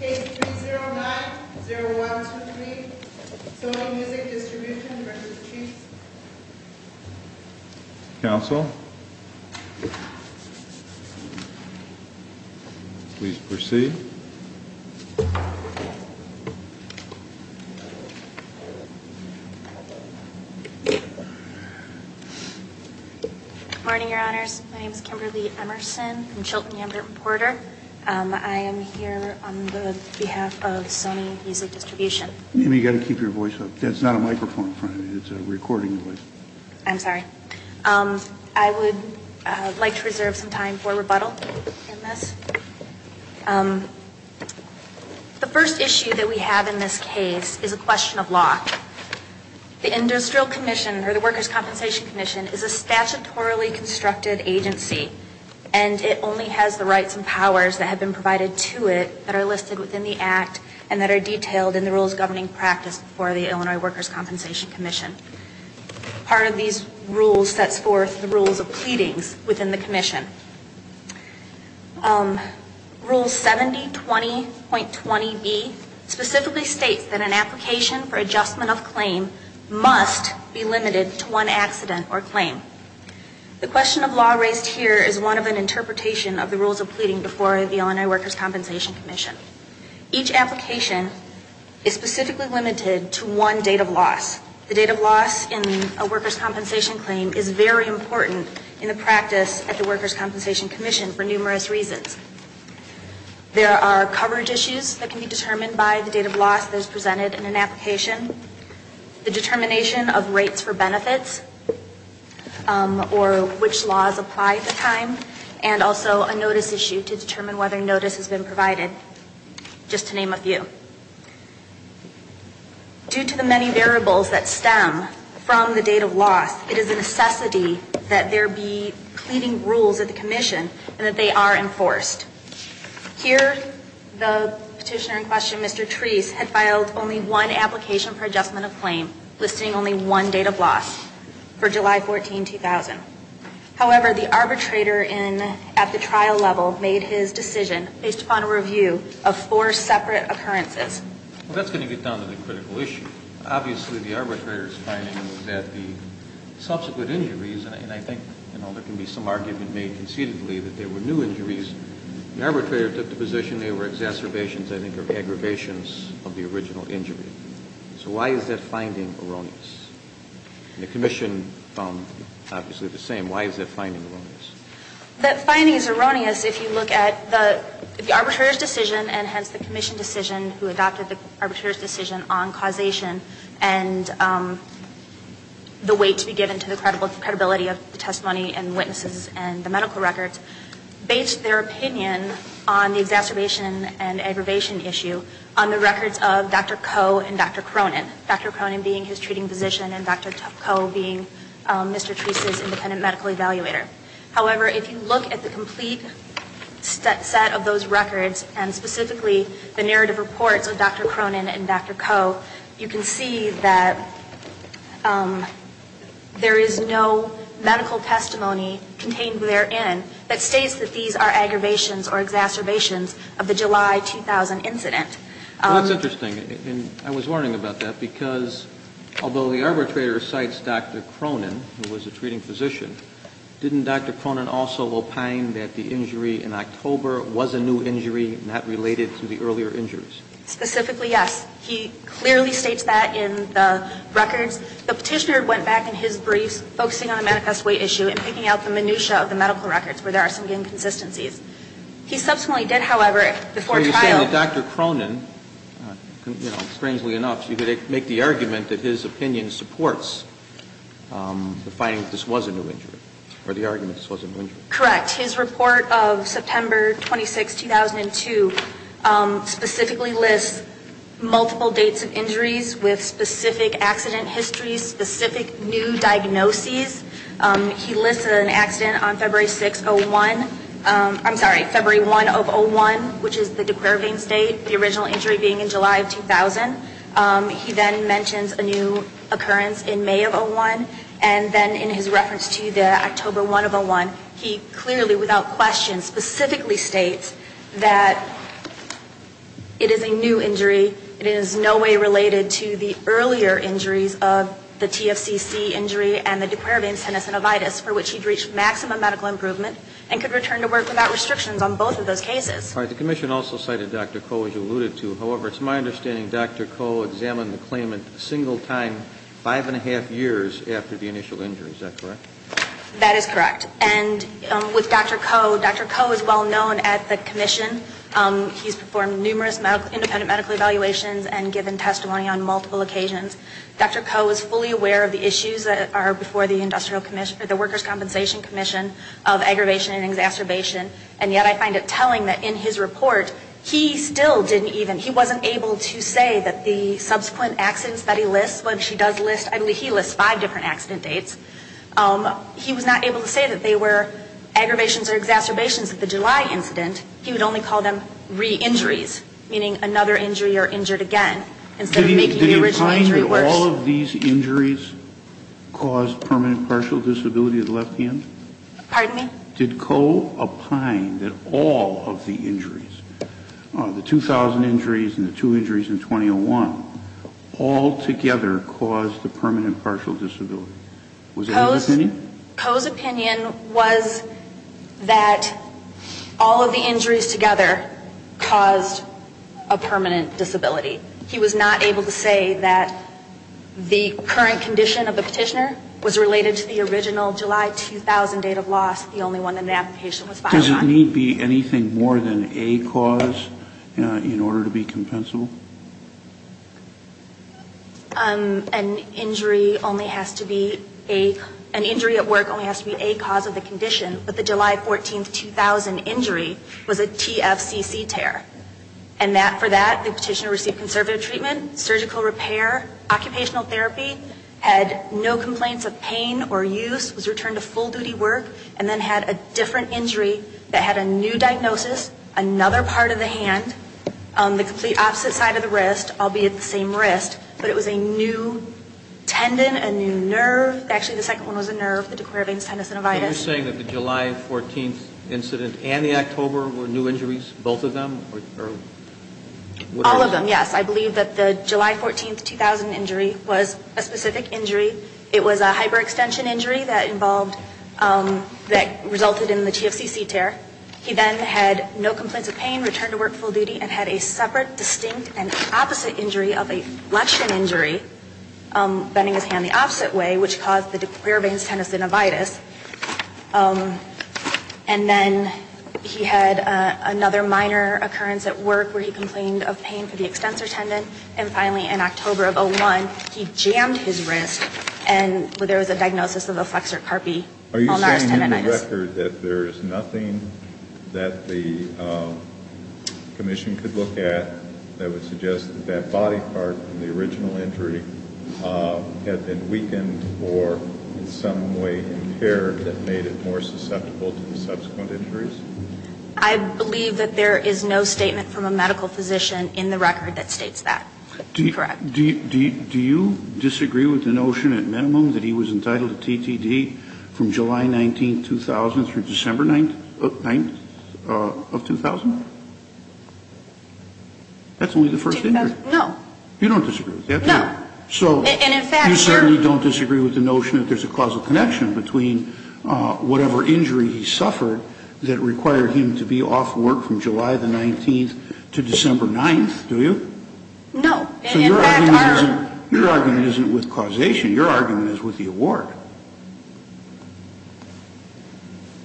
Case 3090123, Sony Music Distribution v. The Chiefs Counsel, please proceed Good morning, your honors. My name is Kimberly Emerson. I'm Chilton Yamgarten-Porter. I am here on behalf of Sony Music Distribution. You've got to keep your voice up. That's not a microphone in front of you. It's a recording device. I'm sorry. I would like to reserve some time for rebuttal in this. The first issue that we have in this case is a question of law. The Industrial Commission, or the Workers' Compensation Commission, is a statutorily constructed agency, and it only has the rights and powers that have been provided to it that are listed within the Act and that are part of these rules that's for the rules of pleadings within the commission. Rule 7020.20B specifically states that an application for adjustment of claim must be limited to one accident or claim. The question of law raised here is one of an interpretation of the rules of pleading before the Illinois Workers' Compensation Commission. Each application is very important in the practice at the Workers' Compensation Commission for numerous reasons. There are coverage issues that can be determined by the date of loss that is presented in an application, the determination of rates for benefits, or which laws apply at the time, and also a notice issue to determine whether notice has been provided, just to name a few. Due to the many variables that stem from the date of loss, it is a necessity that there be pleading rules at the commission and that they are enforced. Here, the petitioner in question, Mr. Treece, had filed only one application for adjustment of claim, listing only one date of loss for July 14, 2000. However, the arbitrator at the trial level made his decision based upon a review of four separate occurrences. Well, that's going to get down to the critical issue. Obviously, the arbitrator's finding was that the subsequent injuries, and I think, you know, there can be some argument made concededly that they were new injuries. The arbitrator took the position they were exacerbations, I think, or aggravations of the original injury. So why is that finding erroneous? And the commission found, obviously, the same. Why is that finding erroneous? That finding is erroneous if you look at the arbitrator's decision, and hence the commission decision who adopted the arbitrator's decision on causation and the weight to be given to the credibility of the testimony and witnesses and the medical records, based their opinion on the exacerbation and aggravation issue on the records of Dr. Koh and Dr. Cronin, Dr. Cronin being his treating physician and Dr. Koh being Mr. Cronin's treating physician. However, if you look at the complete set of those records, and specifically the narrative reports of Dr. Cronin and Dr. Koh, you can see that there is no medical testimony contained therein that states that these are aggravations or exacerbations of the July 2000 incident. Well, that's interesting. And I was wondering about that, because although the arbitrator cites Dr. Cronin, who was a treating physician, didn't Dr. Cronin also opine that the injury in October was a new injury, not related to the earlier injuries? Specifically, yes. He clearly states that in the records. The Petitioner went back in his briefs, focusing on the manifest weight issue and picking out the minutia of the medical records where there are some inconsistencies. He subsequently did, however, before trial. So you're saying that Dr. Cronin, strangely enough, you could make the argument that his opinion supports the finding that this was a new injury, or the argument that this was an injury? Correct. His report of September 26, 2002, specifically lists multiple dates of injuries with specific accident histories, specific new diagnoses. He lists an accident on February 6, 01. I'm sorry, February 1 of 01, which is the De Quervain State, the original injury being in July of 2000. He then mentions a new occurrence in May of 01, and then in his reference to the October 1 of 01, he clearly, without question, specifically states that it is a new injury. It is in no way related to the earlier injuries of the TFCC injury and the De Quervain's tenosynovitis, for which he'd reached maximum medical improvement and could return to work without restrictions on both of those cases. All right. The Commission also cited Dr. Coe, as you alluded to. However, it's my understanding Dr. Coe examined the claimant a single time, five and a half years after the initial injury. Is that correct? That is correct. And with Dr. Coe, Dr. Coe is well known at the Commission. He's performed numerous independent medical evaluations and given testimony on multiple occasions. Dr. Coe is fully aware of the issues that are before the Industrial Commission, the Workers' Compensation Commission, of aggravation and exacerbation, and yet I find it telling that in his report, he still didn't even, he wasn't able to say that the subsequent accidents that he lists, which he does list, I believe he lists five different accident dates, he was not able to say that they were aggravations or exacerbations of the July incident. He would only call them re-injuries, meaning another injury or injured again, instead of making the original injury worse. Did the re-injuries cause permanent partial disability of the left hand? Pardon me? Did Coe opine that all of the injuries, the 2,000 injuries and the two injuries in 2001, all together caused a permanent partial disability? Was that his opinion? Coe's opinion was that all of the injuries together caused a permanent disability. He was not able to say that the current condition of the petitioner was related to the original July 2,000 date of loss, the only one that the application was filed on. Does it need be anything more than a cause in order to be compensable? An injury only has to be a, an injury at work only has to be a cause of the condition, but the July 14, 2000 injury was a TFCC tear. And that, for that, the petitioner received conservative treatment, surgical repair, occupational therapy, had no complaints of pain or use, was returned to full-duty work, and then had a different injury that had a new diagnosis, another part of the hand, the complete opposite side of the wrist, albeit the same wrist, but it was a new tendon, a new nerve. Actually, the second one was a nerve, the De Quervain's tendosynovitis. Are you saying that the July 14 incident and the October were new injuries, both of them? All of them, yes. I believe that the July 14, 2000 injury was a specific injury. It was a hyperextension injury that involved, that resulted in the TFCC tear. He then had no complaints of pain, returned to work full-duty, and had a separate, distinct, and opposite injury of a flexion injury, bending his hand the opposite way, which caused the De Quervain's tendosynovitis. And then he had another minor occurrence at work where he complained of pain for the extensor tendon, and finally, in October of 2001, he jammed his wrist, and there was a diagnosis of a flexor carpe malnares tendonitis. Are you saying in the record that there is nothing that the commission could look at that would suggest that that body part in the original injury had been weakened or in some way impaired that made it more susceptible to the subsequent injuries? I believe that there is no statement from a medical physician in the record that states that. Do you disagree with the notion at minimum that he was entitled to TTD from July 19, 2000, through December 9 of 2000? That's only the first injury. No. You don't disagree with that? No. So you certainly don't disagree with the notion that there's a causal connection between whatever injury he suffered that required him to be off work from July the 19th to December 9th, do you? No. So your argument isn't with causation. Your argument is with the award.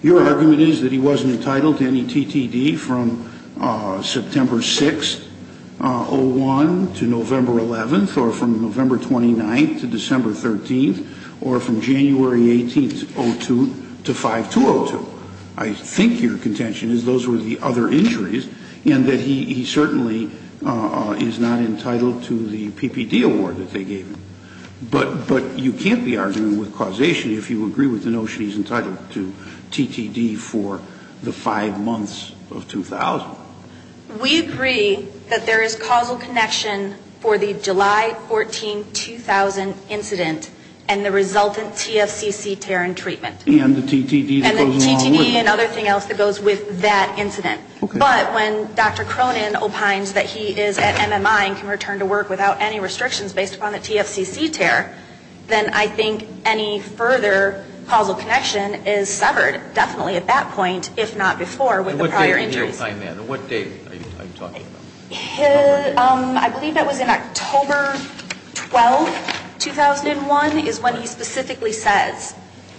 Your argument is that he wasn't entitled to any TTD from September 6, 2001, to November 11th, or from November 29th to December 13th, or from January 18th, 2002, to 5-2-0-2. I think your contention is those were the other injuries, and that he certainly is not entitled to the PPD award that they gave him. But you can't be arguing with causation if you agree with the notion he's entitled to TTD for the five months of 2000. We agree that there is causal connection for the July 14, 2000 incident and the resultant TFCC tear and treatment. And the TTD goes along with it. And the TTD and other thing else that goes with that incident. But when Dr. Cronin opines that he is at MMI and can return to work without any restrictions based upon the TFCC tear, then I think any further causal connection is severed definitely at that point, if not before, with the prior injuries. And what date did he opine that? And what date are you talking about? I believe that was in October 12, 2001, is when he specifically says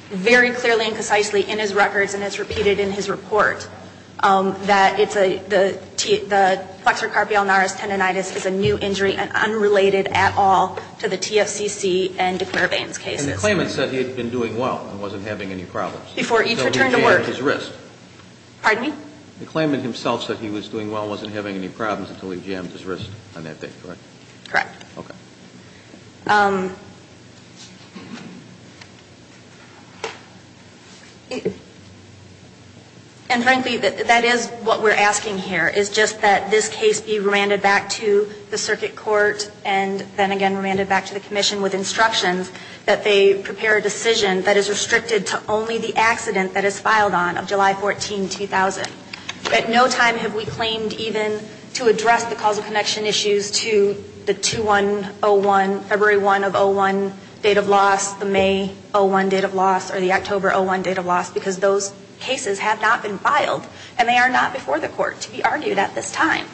very clearly and precisely in his records, and it's repeated in his report, that it's a, the flexor carpi ulnaris tendonitis is a new injury and unrelated at all to the TFCC and declare veins cases. And the claimant said he had been doing well and wasn't having any problems. Before he returned to work. Until he jammed his wrist. Pardon me? The claimant himself said he was doing well and wasn't having any problems until he jammed his wrist on that date, correct? Correct. Okay. And, frankly, that is what we're asking here, is just that this case be remanded back to the circuit court and then again remanded back to the commission with instructions that they prepare a decision that is restricted to only the accident that is filed on of July 14, 2000. At no time have we claimed even to address the causal connection issues to the 2101, February 1 of 01 date of loss, the May 01 date of loss, or the October 01 date of loss, because those cases have not been filed and they are not before the court to be argued at this time.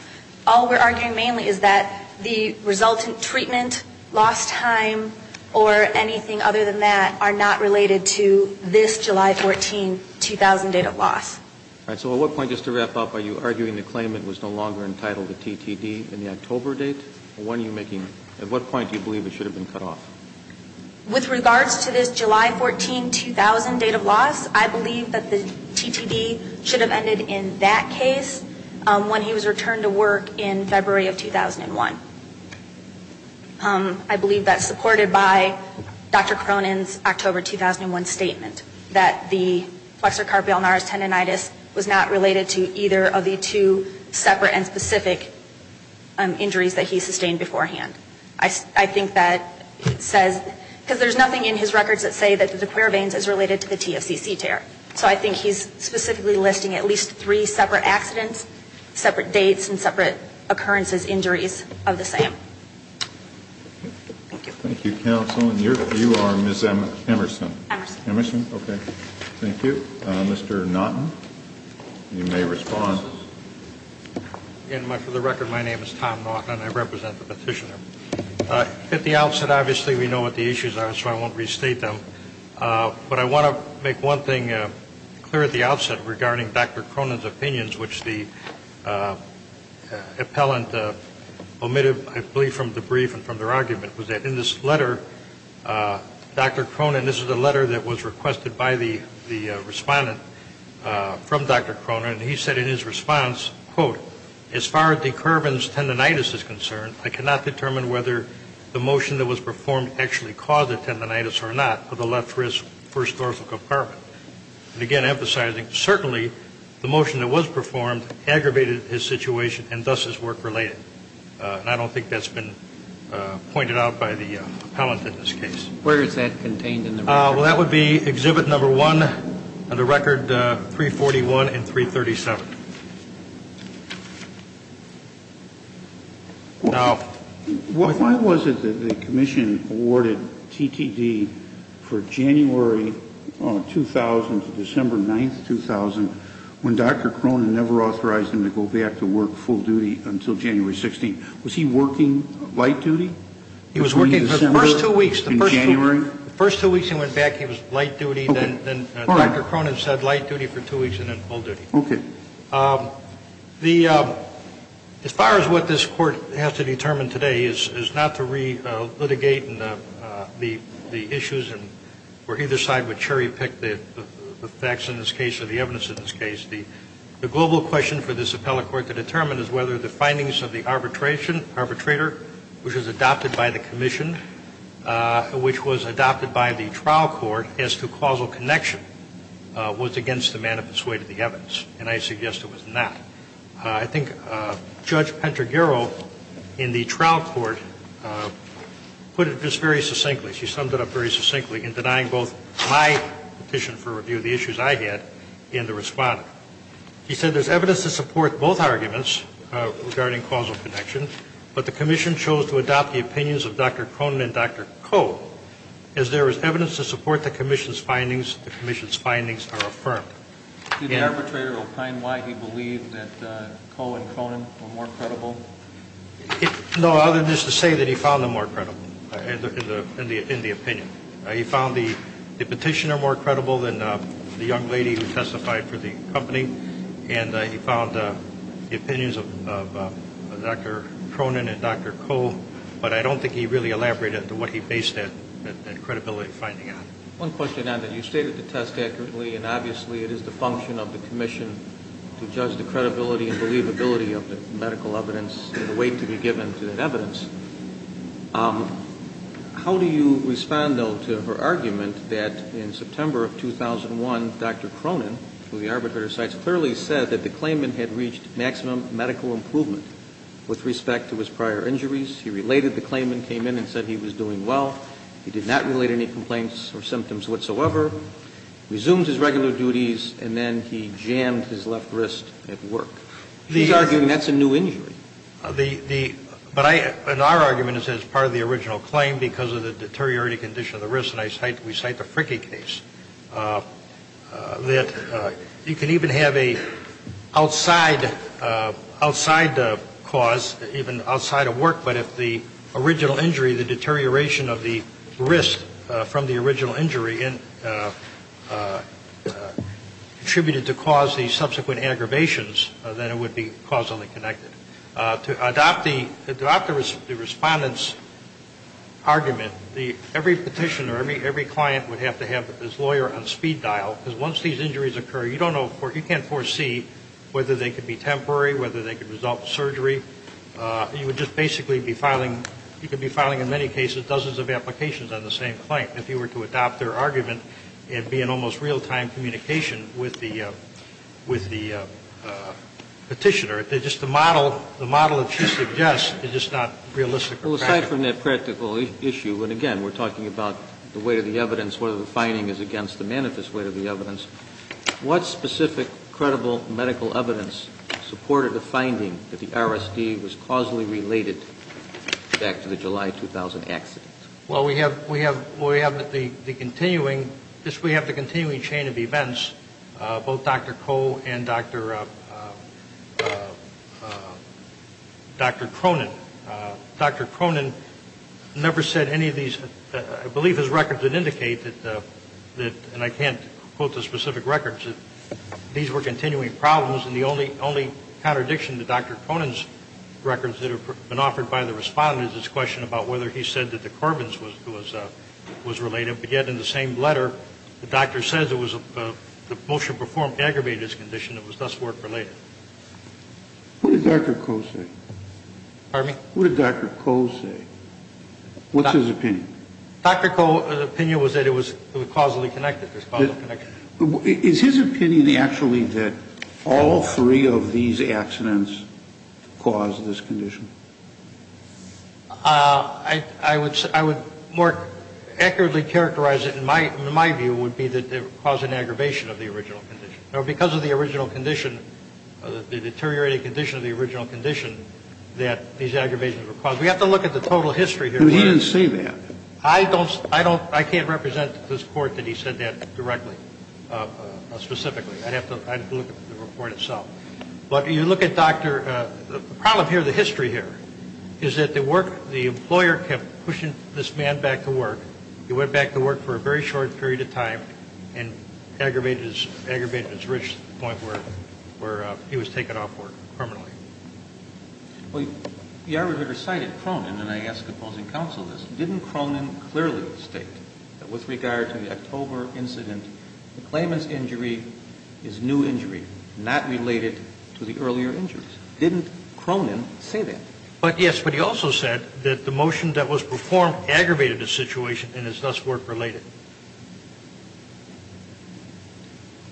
All we're arguing mainly is that the resultant treatment, lost time, or anything other than that are not related to this July 14, 2000 date of loss. All right. So at what point, just to wrap up, are you arguing the claimant was no longer entitled to TTD in the October date? Or when are you making, at what point do you believe it should have been cut off? With regards to this July 14, 2000 date of loss, I believe that the TTD should have ended in that case when he was returned to work in February of 2001. I believe that's supported by Dr. Cronin's October 2001 statement that the flexor carpi ulnaris tendonitis was not related to either of the two separate and specific injuries that he sustained beforehand. I think that says, because there's nothing in his records that say that the the querve veins is related to the TFCC tear. So I think he's specifically listing at least three separate accidents, separate dates, and separate occurrences, injuries. That's my understanding of this item. Thank you. Thank you, Counsel. And you are Ms. Emerson. Emerson. Emerson. Okay. Thank you. Mr. Naughton, you may respond. Again, for the record, my name is Tom Naughton. I represent the petitioner. At the outset, obviously, we know what the issues are, so I won't restate them. But I want to make one thing clear at the outset regarding Dr. Cronin's opinions, which the appellant omitted, I believe, from the brief and from their argument, was that in this letter, Dr. Cronin, this is a letter that was requested by the respondent from Dr. Cronin. He said in his response, quote, as far as the querven's tendonitis is concerned, I cannot determine whether the motion that was performed actually caused the tendonitis or not for the left wrist, first dorsal compartment. And, again, emphasizing, certainly, the motion that was performed aggravated his situation and thus his work related. And I don't think that's been pointed out by the appellant in this case. Where is that contained in the record? Well, that would be exhibit number one of the record 341 and 337. Now, why was it that the commission awarded TTD for January 2000 to December 9, 2000, when Dr. Cronin never authorized him to go back to work full duty until January 16? Was he working light duty? He was working for the first two weeks. In January? The first two weeks he went back, he was light duty. Then Dr. Cronin said light duty for two weeks and then full duty. Okay. As far as what this Court has to determine today is not to re-litigate the issues where either side would cherry pick the facts in this case or the evidence in this case. The global question for this appellate court to determine is whether the findings of the arbitrator, which was adopted by the commission, which was adopted by the trial court, as to causal connection was against the man who persuaded the evidence. And I suggest it was not. I think Judge Pantagiaro in the trial court put it just very succinctly. She summed it up very succinctly in denying both my petition for review, the issues I had, and the Respondent. She said there's evidence to support both arguments regarding causal connection, but the commission chose to adopt the opinions of Dr. Cronin and Dr. Coe as there is evidence to support the commission's findings. The commission's findings are affirmed. Did the arbitrator opine why he believed that Coe and Cronin were more credible? No, other than just to say that he found them more credible in the opinion. He found the petitioner more credible than the young lady who testified for the company, and he found the opinions of Dr. Cronin and Dr. Coe, but I don't think he really elaborated what he based that credibility finding on. One question on that. You stated the test accurately, and obviously it is the function of the commission to judge the credibility and believability of the medical evidence and the weight to be given to that evidence. How do you respond, though, to her argument that in September of 2001, Dr. Cronin, who the arbitrator cites, clearly said that the claimant had reached maximum medical improvement with respect to his prior injuries. He related the claimant came in and said he was doing well. He did not relate any complaints or symptoms whatsoever, resumed his regular duties, and then he jammed his left wrist at work. He's arguing that's a new injury. The the but I and our argument is as part of the original claim because of the deteriorating condition of the wrist, and I cite we cite the Frickie case, that you can even have a outside cause, even outside of work, but if the original injury, the deterioration of the wrist from the original injury contributed to cause the subsequent aggravations, then it would be causally connected. To adopt the respondent's argument, every petitioner, every client would have to have this lawyer on speed dial because once these injuries occur, you don't know, you can't foresee whether they could be temporary, whether they could result in surgery. You would just basically be filing, you could be filing in many cases dozens of applications on the same claim if you were to adopt their argument and be in almost real-time communication with the petitioner. It's just the model, the model that she suggests is just not realistic or practical. Aside from that practical issue, and again, we're talking about the weight of the evidence, whether the finding is against the manifest weight of the evidence, what specific credible medical evidence supported the finding that the RSD was causally related back to the July 2000 accident? Well, we have we have we have the continuing, we have the continuing chain of events, both Dr. Koh and Dr. Cronin. Dr. Cronin never said any of these, I believe his records would indicate that, and I can't quote the specific records, that these were continuing problems and the only contradiction to Dr. Cronin's records that have been offered by the respondent is his question about whether he said that the motion performed aggravated his condition and was thus work-related. What did Dr. Koh say? Pardon me? What did Dr. Koh say? What's his opinion? Dr. Koh's opinion was that it was causally connected. Is his opinion actually that all three of these accidents caused this condition? I would more accurately characterize it in my view would be that it caused an aggravation of the original condition. Because of the original condition, the deteriorating condition of the original condition, that these aggravations were caused. We have to look at the total history here. He didn't say that. I can't represent to this Court that he said that directly, specifically. I'd have to look at the report itself. But you look at Dr. the problem here, the history here, is that the employer kept pushing this man back to work. He went back to work for a very short period of time and aggravated his risk to the point where he was taken off work permanently. Well, the arbitrator cited Cronin, and I ask opposing counsel this. Didn't Cronin clearly state that with regard to the October incident, the claimant's injury is new injury, not related to the earlier injuries? Didn't Cronin say that? But, yes, but he also said that the motion that was performed aggravated the situation and is thus work-related.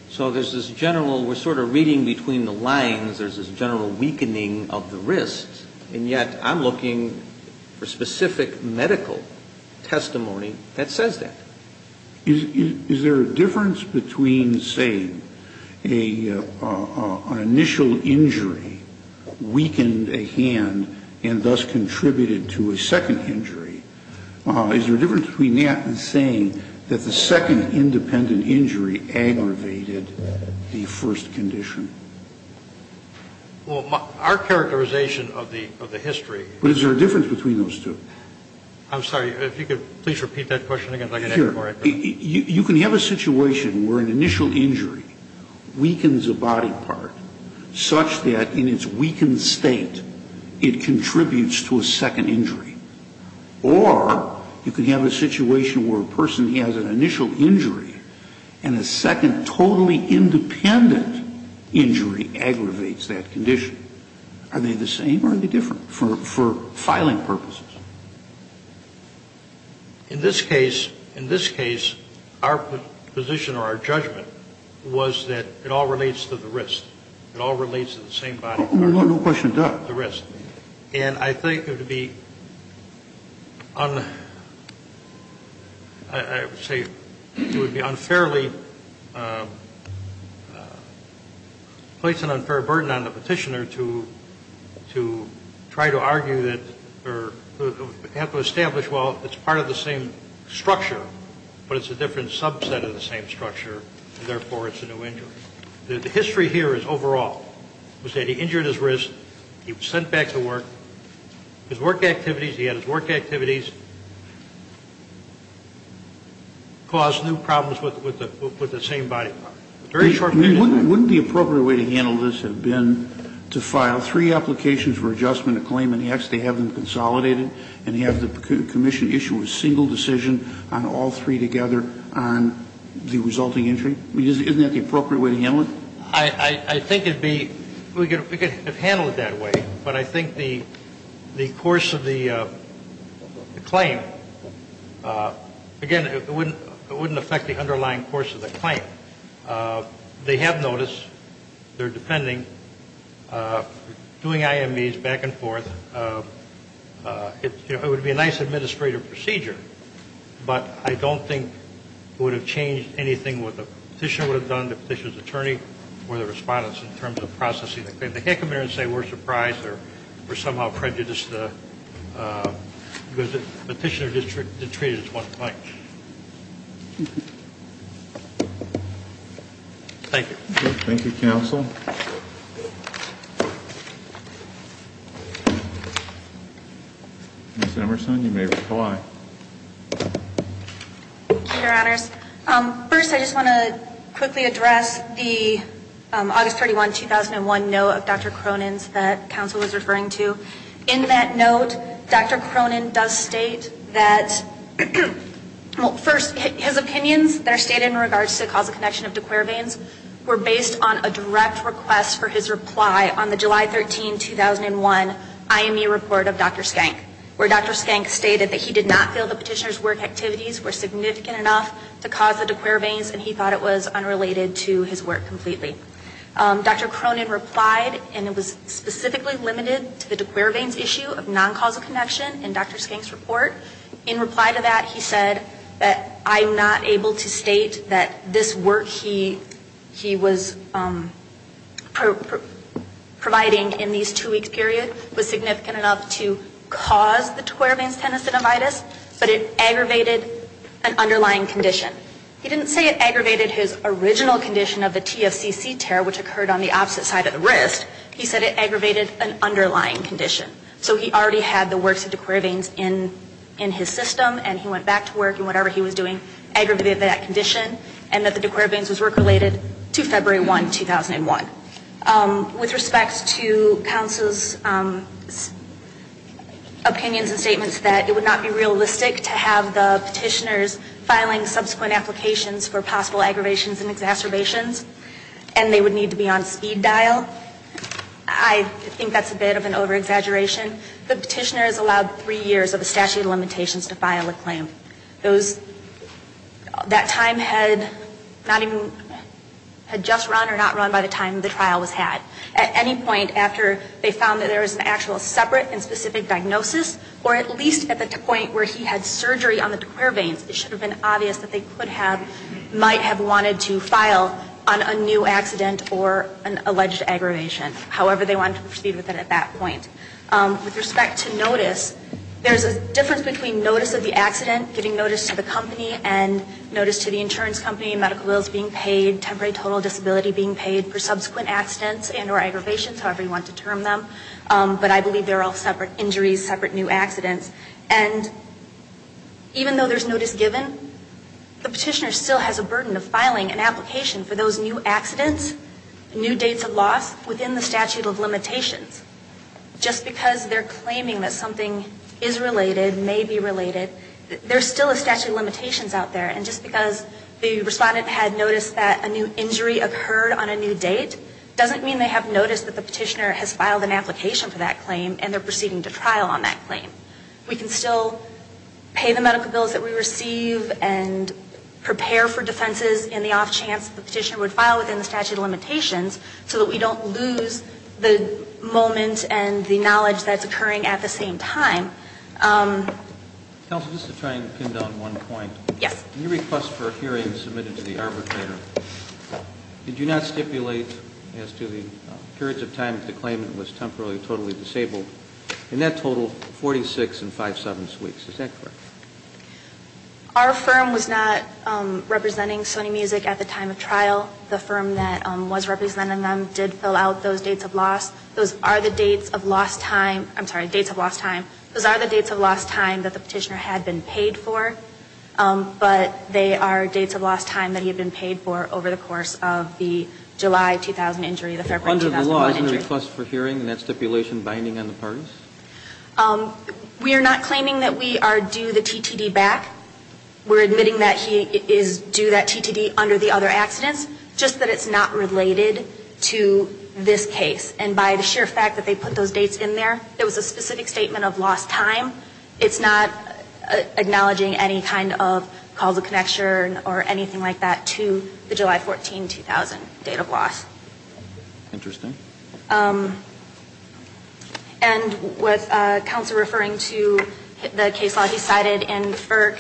So there's this general, we're sort of reading between the lines, there's this general weakening of the risks, and yet I'm looking for specific medical testimony that says that. Is there a difference between saying an initial injury weakened a hand and thus contributed to a second injury? Is there a difference between that and saying that the second independent injury aggravated the first condition? Well, our characterization of the history is that there's a difference between those two. I'm sorry. If you could please repeat that question again so I can ask it more accurately. You can have a situation where an initial injury weakens a body part such that in its weakened state it contributes to a second injury. Or you can have a situation where a person has an initial injury and a second totally independent injury aggravates that condition. Are they the same or are they different for filing purposes? In this case, in this case, our position or our judgment was that it all relates to the wrist. It all relates to the same body part. No question. The wrist. And I think it would be unfairly, place an unfair burden on the Petitioner to try to argue that the same body part is the same body part, and therefore, the same injury. The history here is overall. We say he injured his wrist. He was sent back to work. His work activities, he had his work activities cause new problems with the same body part. Very short period of time. Wouldn't the appropriate way to handle this have been to file three applications for adjustment to claimant X, they have them consolidated, and have the commission issue a single decision on all three together on the resulting injury? Isn't that the appropriate way to handle it? I think it would be, we could handle it that way. But I think the course of the claim, again, it wouldn't affect the underlying course of the claim. They have notice. They're defending. Doing IMEs back and forth, it would be a nice administrative procedure. But I don't think it would have changed anything what the Petitioner would have done, the Petitioner's attorney, or the respondents in terms of processing the claim. The head commander would say we're surprised or somehow prejudiced because the Petitioner district did treat it as one claim. Thank you. Thank you, counsel. Ms. Emerson, you may reply. Thank you, your honors. First, I just want to quickly address the August 31, 2001 note of Dr. Cronin's that counsel was referring to. In that note, Dr. Cronin does state that, well, first, his opinions that are stated in regards to the causal connection of de Quervain's were based on a direct request for his reply on the July 13, 2001 IME report of Dr. Skank, where Dr. Skank stated that he did not feel the Petitioner's work activities were significant enough to cause the de Quervain's and he thought it was unrelated to his work completely. Dr. Cronin replied, and it was specifically limited to the de Quervain's issue of non-causal connection in Dr. Skank's report. In reply to that, he said that I'm not able to state that this work he was providing in these two weeks period was significant enough to cause the de Quervain's tenosynovitis, but it aggravated an underlying condition. He didn't say it aggravated his original condition of the TFCC tear, which occurred on the opposite side of the wrist. He said it aggravated an underlying condition. So he already had the works of de Quervain's in his system and he went back to work and whatever he was doing aggravated that condition and that the de Quervain's was work related to February 1, 2001. With respect to counsel's opinions and statements that it would not be realistic to have the possible aggravations and exacerbations and they would need to be on speed dial, I think that's a bit of an over-exaggeration. The petitioner is allowed three years of a statute of limitations to file a claim. Those, that time had not even, had just run or not run by the time the trial was had. At any point after they found that there was an actual separate and specific diagnosis or at least at the point where he had surgery on the de Quervain's, it should have been might have wanted to file on a new accident or an alleged aggravation, however they wanted to proceed with it at that point. With respect to notice, there's a difference between notice of the accident, getting notice to the company and notice to the insurance company, medical bills being paid, temporary total disability being paid for subsequent accidents and or aggravations, however you want to term them. But I believe they're all separate injuries, separate new accidents. And even though there's notice given, the petitioner still has a burden of filing an application for those new accidents, new dates of loss within the statute of limitations. Just because they're claiming that something is related, may be related, there's still a statute of limitations out there and just because the respondent had noticed that a new injury occurred on a new date, doesn't mean they have noticed that the petitioner has filed an application for that claim and they're proceeding to trial on that claim. We can still pay the medical bills that we receive and prepare for defenses in the off chance the petitioner would file within the statute of limitations so that we don't lose the moment and the knowledge that's occurring at the same time. Counsel, just to try and pin down one point. Yes. In your request for a hearing submitted to the arbitrator, did you not stipulate as to the periods of time that the claimant was temporarily totally disabled? In that total, 46 and five-sevenths weeks. Is that correct? Our firm was not representing Sony Music at the time of trial. The firm that was representing them did fill out those dates of loss. Those are the dates of lost time. I'm sorry, dates of lost time. Those are the dates of lost time that the petitioner had been paid for. But they are dates of lost time that he had been paid for over the course of the July 14, 2000 injury, the Fairfax 2001 injury. Under the law, isn't a request for hearing in that stipulation binding on the parties? We are not claiming that we are due the TTD back. We're admitting that he is due that TTD under the other accidents, just that it's not related to this case. And by the sheer fact that they put those dates in there, it was a specific statement of lost time. It's not acknowledging any kind of causal connection or anything like that to the July 14, 2000 date of loss. Interesting. And with counsel referring to the case law he cited in FERC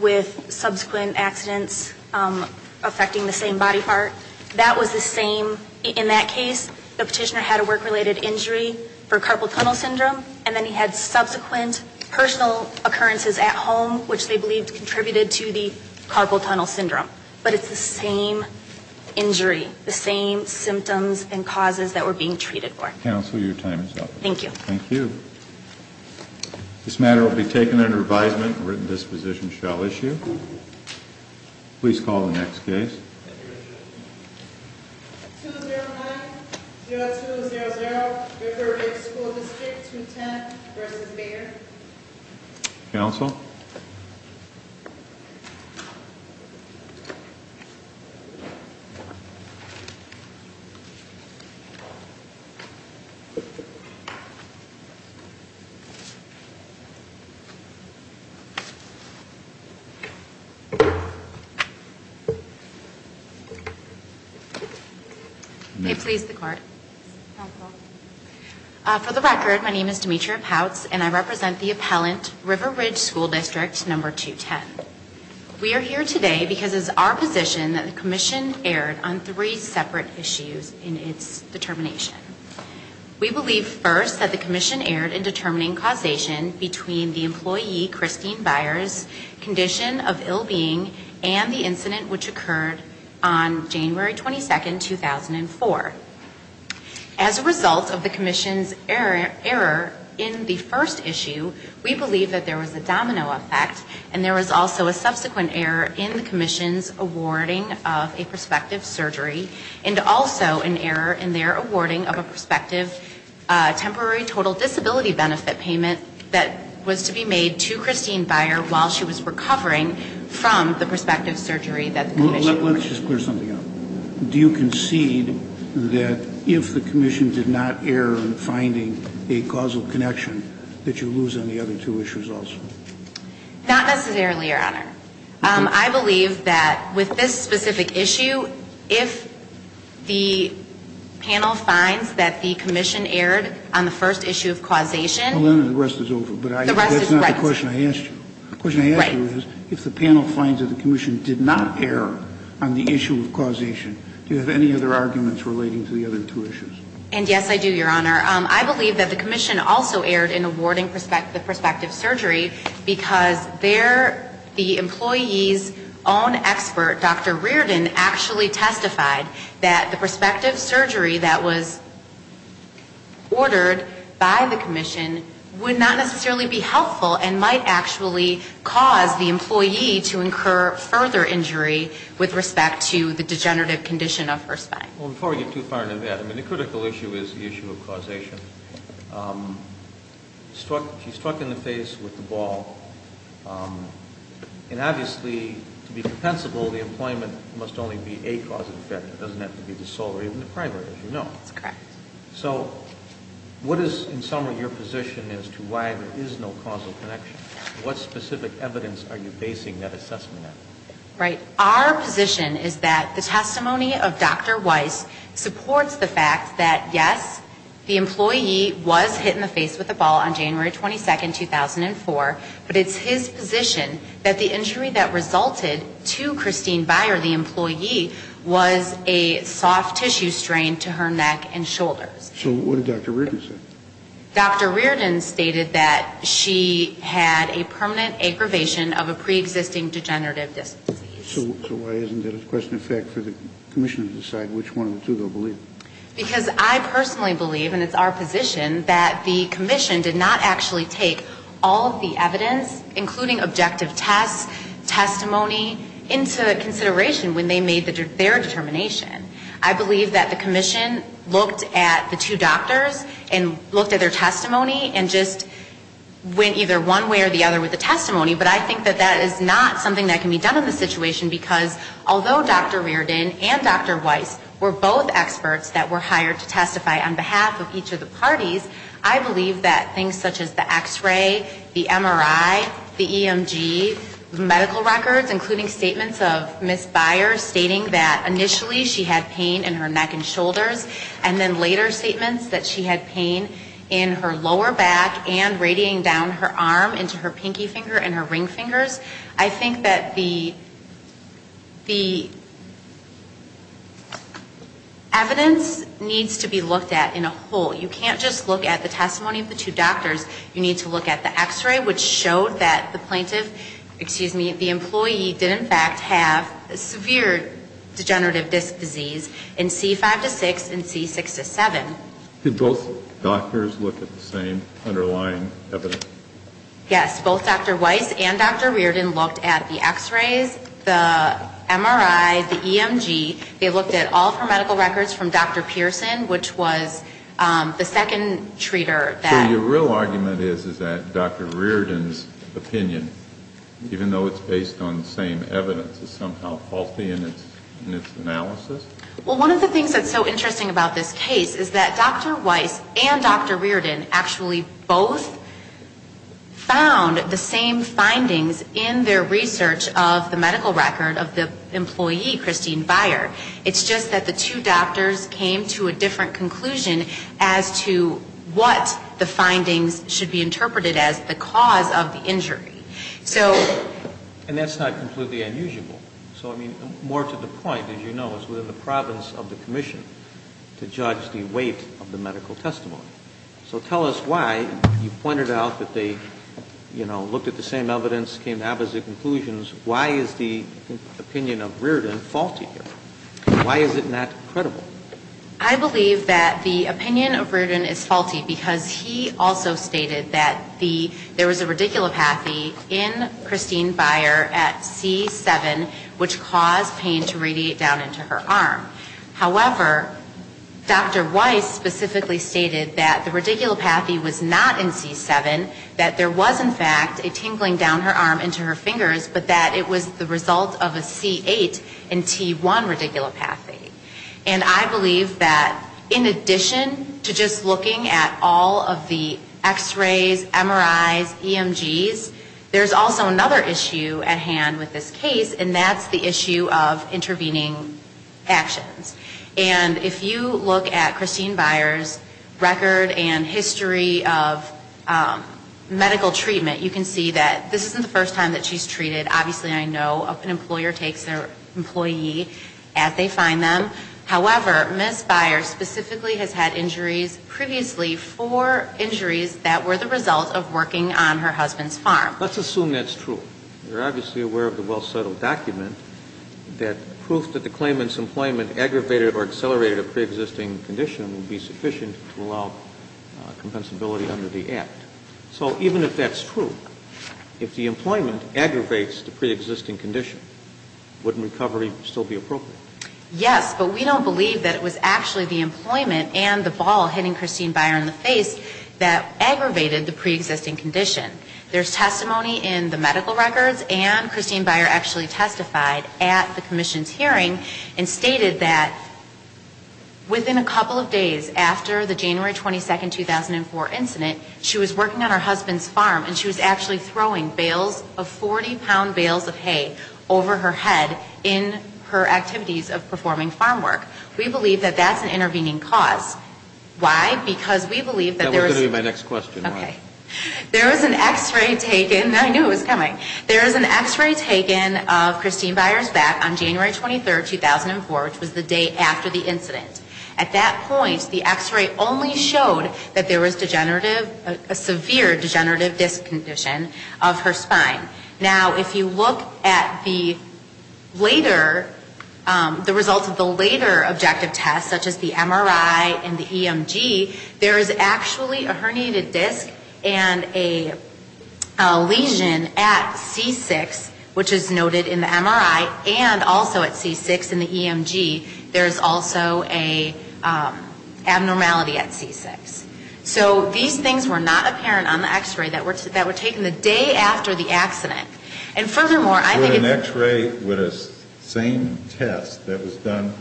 with subsequent accidents affecting the same body part, that was the same in that case. The petitioner had a work-related injury for carpal tunnel syndrome, and then he had subsequent personal occurrences at home, which they believed contributed to the carpal tunnel syndrome. But it's the same injury, the same symptoms and causes that were being treated for. Counsel, your time is up. Thank you. Thank you. This matter will be taken under advisement. A written disposition shall issue. Please call the next case. 209-0200, Riverdale School District, 210 versus Bayer. Counsel? Counsel? May it please the Court? Counsel? For the record, my name is Demetria Pouts, and I represent the appellant, River Ridge School District, number 210. We are here today because it is our position that the commission erred on three separate issues in its determination. We believe first that the commission erred in determining causation between the employee, Christine Byers, condition of ill-being and the incident which occurred on January 22, 2004. As a result of the commission's error in the first issue, we believe that there was a domino effect, and there was also a subsequent error in the commission's awarding of a prospective surgery, and also an error in their awarding of a prospective temporary total disability benefit payment that was to be made to Christine Byers while she was recovering from the prospective surgery that the commission awarded. Let's just clear something up. Do you concede that if the commission did not err in finding a causal connection that you lose on the other two issues also? Not necessarily, Your Honor. I believe that with this specific issue, if the panel finds that the commission erred on the first issue of causation. Well, then the rest is over. The rest is right. But that's not the question I asked you. The question I asked you is if the panel finds that the commission did not err on the causation. Do you have any other arguments relating to the other two issues? And yes, I do, Your Honor. I believe that the commission also erred in awarding the prospective surgery because there the employee's own expert, Dr. Reardon, actually testified that the prospective surgery that was ordered by the commission would not necessarily be helpful and might actually cause the employee to incur further injury with respect to the degenerative condition of her spine. Well, before we get too far into that, I mean, the critical issue is the issue of causation. She struck in the face with the ball. And obviously, to be compensable, the employment must only be a cause and effect. It doesn't have to be the sole or even the primary, as you know. That's correct. So what is, in summary, your position as to why there is no causal connection? What specific evidence are you basing that assessment on? Right. Our position is that the testimony of Dr. Weiss supports the fact that, yes, the employee was hit in the face with the ball on January 22, 2004, but it's his position that the injury that resulted to Christine Byer, the employee, was a soft tissue strain to her neck and shoulders. So what did Dr. Reardon say? Dr. Reardon stated that she had a permanent aggravation of a preexisting degenerative disease. So why isn't that a question of fact for the commission to decide which one of the two they'll believe? Because I personally believe, and it's our position, that the commission did not actually take all of the evidence, including objective tests, testimony, into consideration when they made their determination. I believe that the commission looked at the two doctors and looked at their testimony and just went either one way or the other with the testimony, but I think that that is not something that can be done in this situation, because although Dr. Reardon and Dr. Weiss were both experts that were hired to testify on behalf of each of the parties, I believe that things such as the X-ray, the MRI, the EMG, medical records, including statements of Ms. Byer stating that initially she had pain in her neck and shoulders, and then later statements that she had pain in her lower back and radiating down her arm into her pinky finger and her ring fingers. I think that the evidence needs to be looked at in a whole. You can't just look at the testimony of the two doctors. You need to look at the X-ray, which showed that the plaintiff, excuse me, the employee did, in fact, have severe degenerative disc disease in C5-6 and C6-7. Did both doctors look at the same underlying evidence? Yes. Both Dr. Weiss and Dr. Reardon looked at the X-rays, the MRI, the EMG. They looked at all of her medical records from Dr. Pearson, which was the second treater. So your real argument is that Dr. Reardon's opinion, even though it's based on the same evidence, is somehow faulty in its analysis? Well, one of the things that's so interesting about this case is that Dr. Weiss and Dr. Reardon actually both found the same findings in their research of the medical record of the employee, Christine Byer. It's just that the two doctors came to a different conclusion as to what the findings should be interpreted as the cause of the injury. And that's not completely unusual. So, I mean, more to the point, as you know, it's within the province of the commission to judge the weight of the medical testimony. So tell us why you pointed out that they, you know, looked at the same evidence, came to opposite conclusions. Why is the opinion of Reardon faulty here? Why is it not credible? I believe that the opinion of Reardon is faulty because he also stated that the, there was a radiculopathy in Christine Byer at C7, which caused pain to radiate down into her arm. However, Dr. Weiss specifically stated that the radiculopathy was not in C7, that there was in fact a tingling down her arm into her fingers, but that it was the result of a C8 and T1 radiculopathy. And I believe that in addition to just looking at all of the x-rays, MRIs, EMGs, there's also another issue at hand with this case, and that's the issue of intervening actions. And if you look at Christine Byer's record and history of medical treatment, you can see that this is not a This is not a medical treatment. And this is not a medical treatment. No, I agree with you. And this isn't the first time that she's treated. Obviously, I know an employer takes their employee as they find them. However, Ms. Byer specifically has had injuries previously, four injuries that were the result of working on her husband's farm. Let's assume that's true. You're obviously aware of the well-settled document that proof that the claimant's employment aggravated or accelerated a preexisting condition would be sufficient to allow compensability under the Act. So even if that's true, if the employment aggravates the preexisting condition, wouldn't recovery still be appropriate? Yes, but we don't believe that it was actually the employment and the ball hitting Christine Byer in the face that aggravated the preexisting condition. There's testimony in the medical records, and Christine Byer actually testified at the commission's hearing and stated that within a couple of days after the January 22nd, 2004 incident, she was working on her husband's farm, and she was actually throwing bales of 40-pound bales of hay over her head in her activities of performing farm work. We believe that that's an intervening cause. Why? Because we believe that there was That was going to be my next question. Okay. There was an X-ray taken. I knew it was coming. There was an X-ray taken of Christine Byer's back on January 23rd, 2004, which was the day after the incident. At that point, the X-ray only showed that there was degenerative, a severe degenerative disc condition of her spine. Now, if you look at the later, the results of the later objective tests, such as the MRI and the EMG, there is actually a degenerative disc and a lesion at C6, which is noted in the MRI, and also at C6 in the EMG. There is also an abnormality at C6. So these things were not apparent on the X-ray that were taken the day after the accident. And furthermore, I think With an X-ray with the same test that was done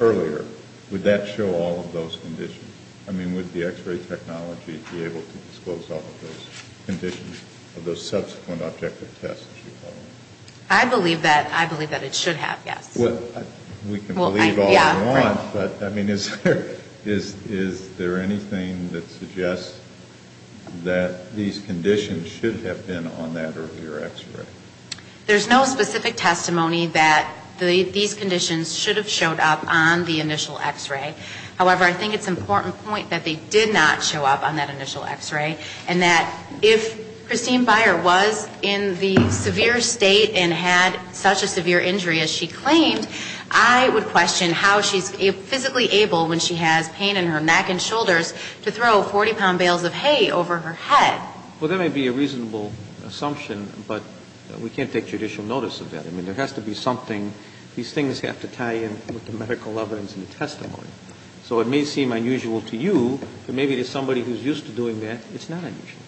earlier, would that show all of those conditions? I mean, would the X-ray technology be able to disclose all of those conditions of those subsequent objective tests? I believe that it should have, yes. We can believe all we want, but I mean, is there anything that suggests that these conditions should have been on that earlier X-ray? There's no specific testimony that these conditions should have showed up on the initial X-ray. However, I think it's an important point that they did not show up on that initial X-ray, and that if Christine Byer was in the severe state and had such a severe injury as she claimed, I would question how she's physically able, when she has pain in her neck and shoulders, to throw 40-pound bales of hay over her head. Well, that may be a reasonable assumption, but we can't take judicial notice of that. I mean, there has to be something. These things have to tie in with the medical evidence and the testimony. So it may seem unusual to you, but maybe to somebody who's used to doing that, it's not unusual.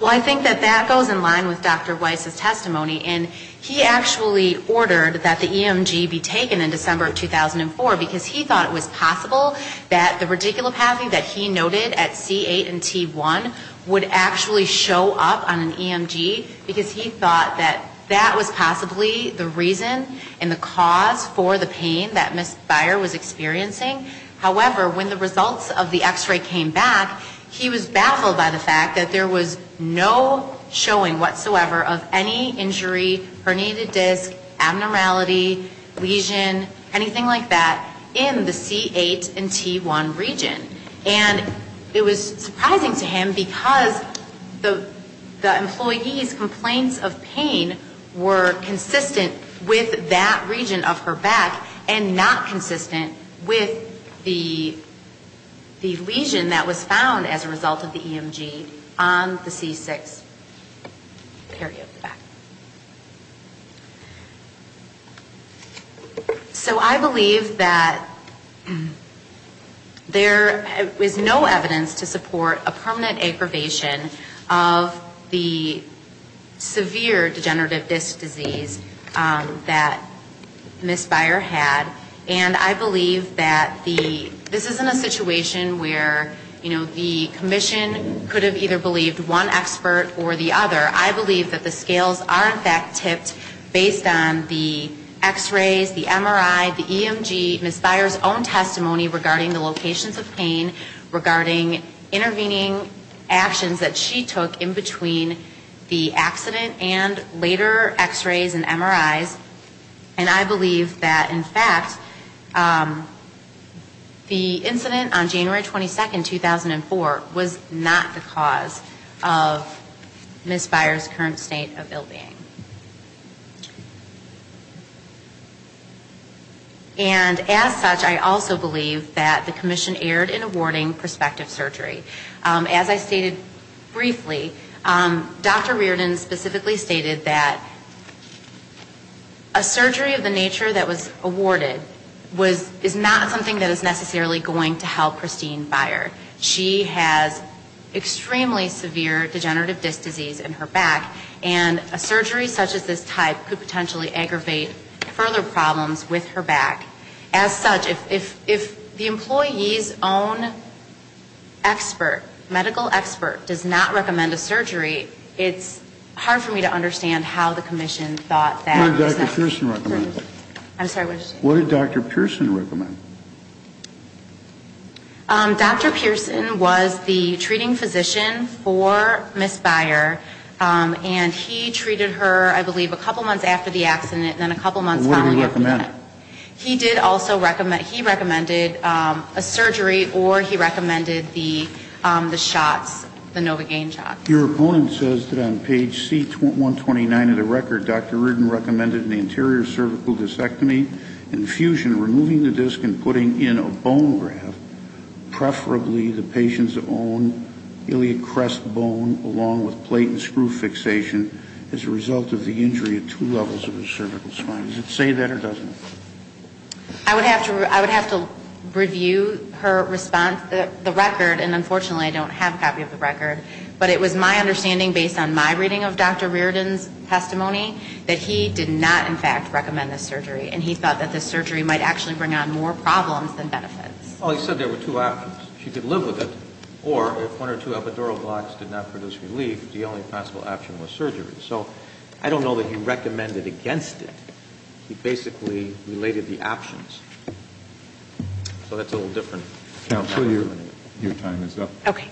Well, I think that that goes in line with Dr. Weiss's testimony. And he actually ordered that the EMG be taken in December of 2004 because he thought it was possible that the radiculopathy that he noted at C8 and T1 would actually show up on an EMG because he thought that that was possibly the reason and the cause for the pain that Ms. Byer was experiencing. However, when the results of the X-ray came back, he was baffled by the fact that there was no showing whatsoever of any injury, herniated disc, abnormality, lesion, anything like that in the C8 and T1 region. And it was surprising to him because the employee's complaints of pain were consistent with that region of her back and not consistent with the lesion that was found as a result of the EMG on the C6 area of the back. So I believe that there is no evidence to support a permanent aggravation of the severe degenerative disc disease that Ms. Byer had. And I believe that this isn't a situation where, you know, the commission could have either believed one expert or the other. I believe that the scales are in fact tipped based on the X-rays, the MRI, the EMG, Ms. Byer's own testimony regarding the locations of pain, regarding intervening actions that she took in between the accident and later X-rays and MRIs. And I believe that, in fact, the incident on January 22nd, 2004, was not the cause of Ms. Byer's current state of ill-being. And as such, I also believe that the commission erred in awarding prospective surgery. As I stated briefly, Dr. Reardon specifically stated that a surgery of the nature that was awarded is not something that is necessarily going to help Christine Byer. She has extremely severe degenerative disc disease in her back. And a surgery such as this type could potentially aggravate further problems with her back. As such, if the employee's own expert, medical expert, does not recommend a surgery, it's hard for me to understand how the commission thought that was necessary. What did Dr. Pearson recommend? I'm sorry, what did you say? What did Dr. Pearson recommend? Dr. Pearson was the treating physician for Ms. Byer. And he treated her, I believe, a couple months after the accident and then a couple months following that. What did he recommend? He did also recommend, he recommended a surgery or he recommended the shots, the Novogaine shots. Your opponent says that on page C-129 of the record, Dr. Reardon recommended an anterior cervical discectomy, infusion, removing the disc and putting in a bone graft, preferably the patient's own iliac crest bone, along with plate and screw fixation, as a result of the injury at two levels of the cervical spine. Does it say that or doesn't it? I would have to review her response, the record, and unfortunately I don't have a copy of the record. But it was my understanding, based on my reading of Dr. Reardon's testimony, that he did not, in fact, recommend the surgery. And he thought that the surgery might actually bring on more problems than benefits. Well, he said there were two options. She could live with it. Or if one or two epidural blocks did not produce relief, the only possible option was surgery. So I don't know that he recommended against it. He basically related the options. So that's a little different. Counselor, your time is up. Okay.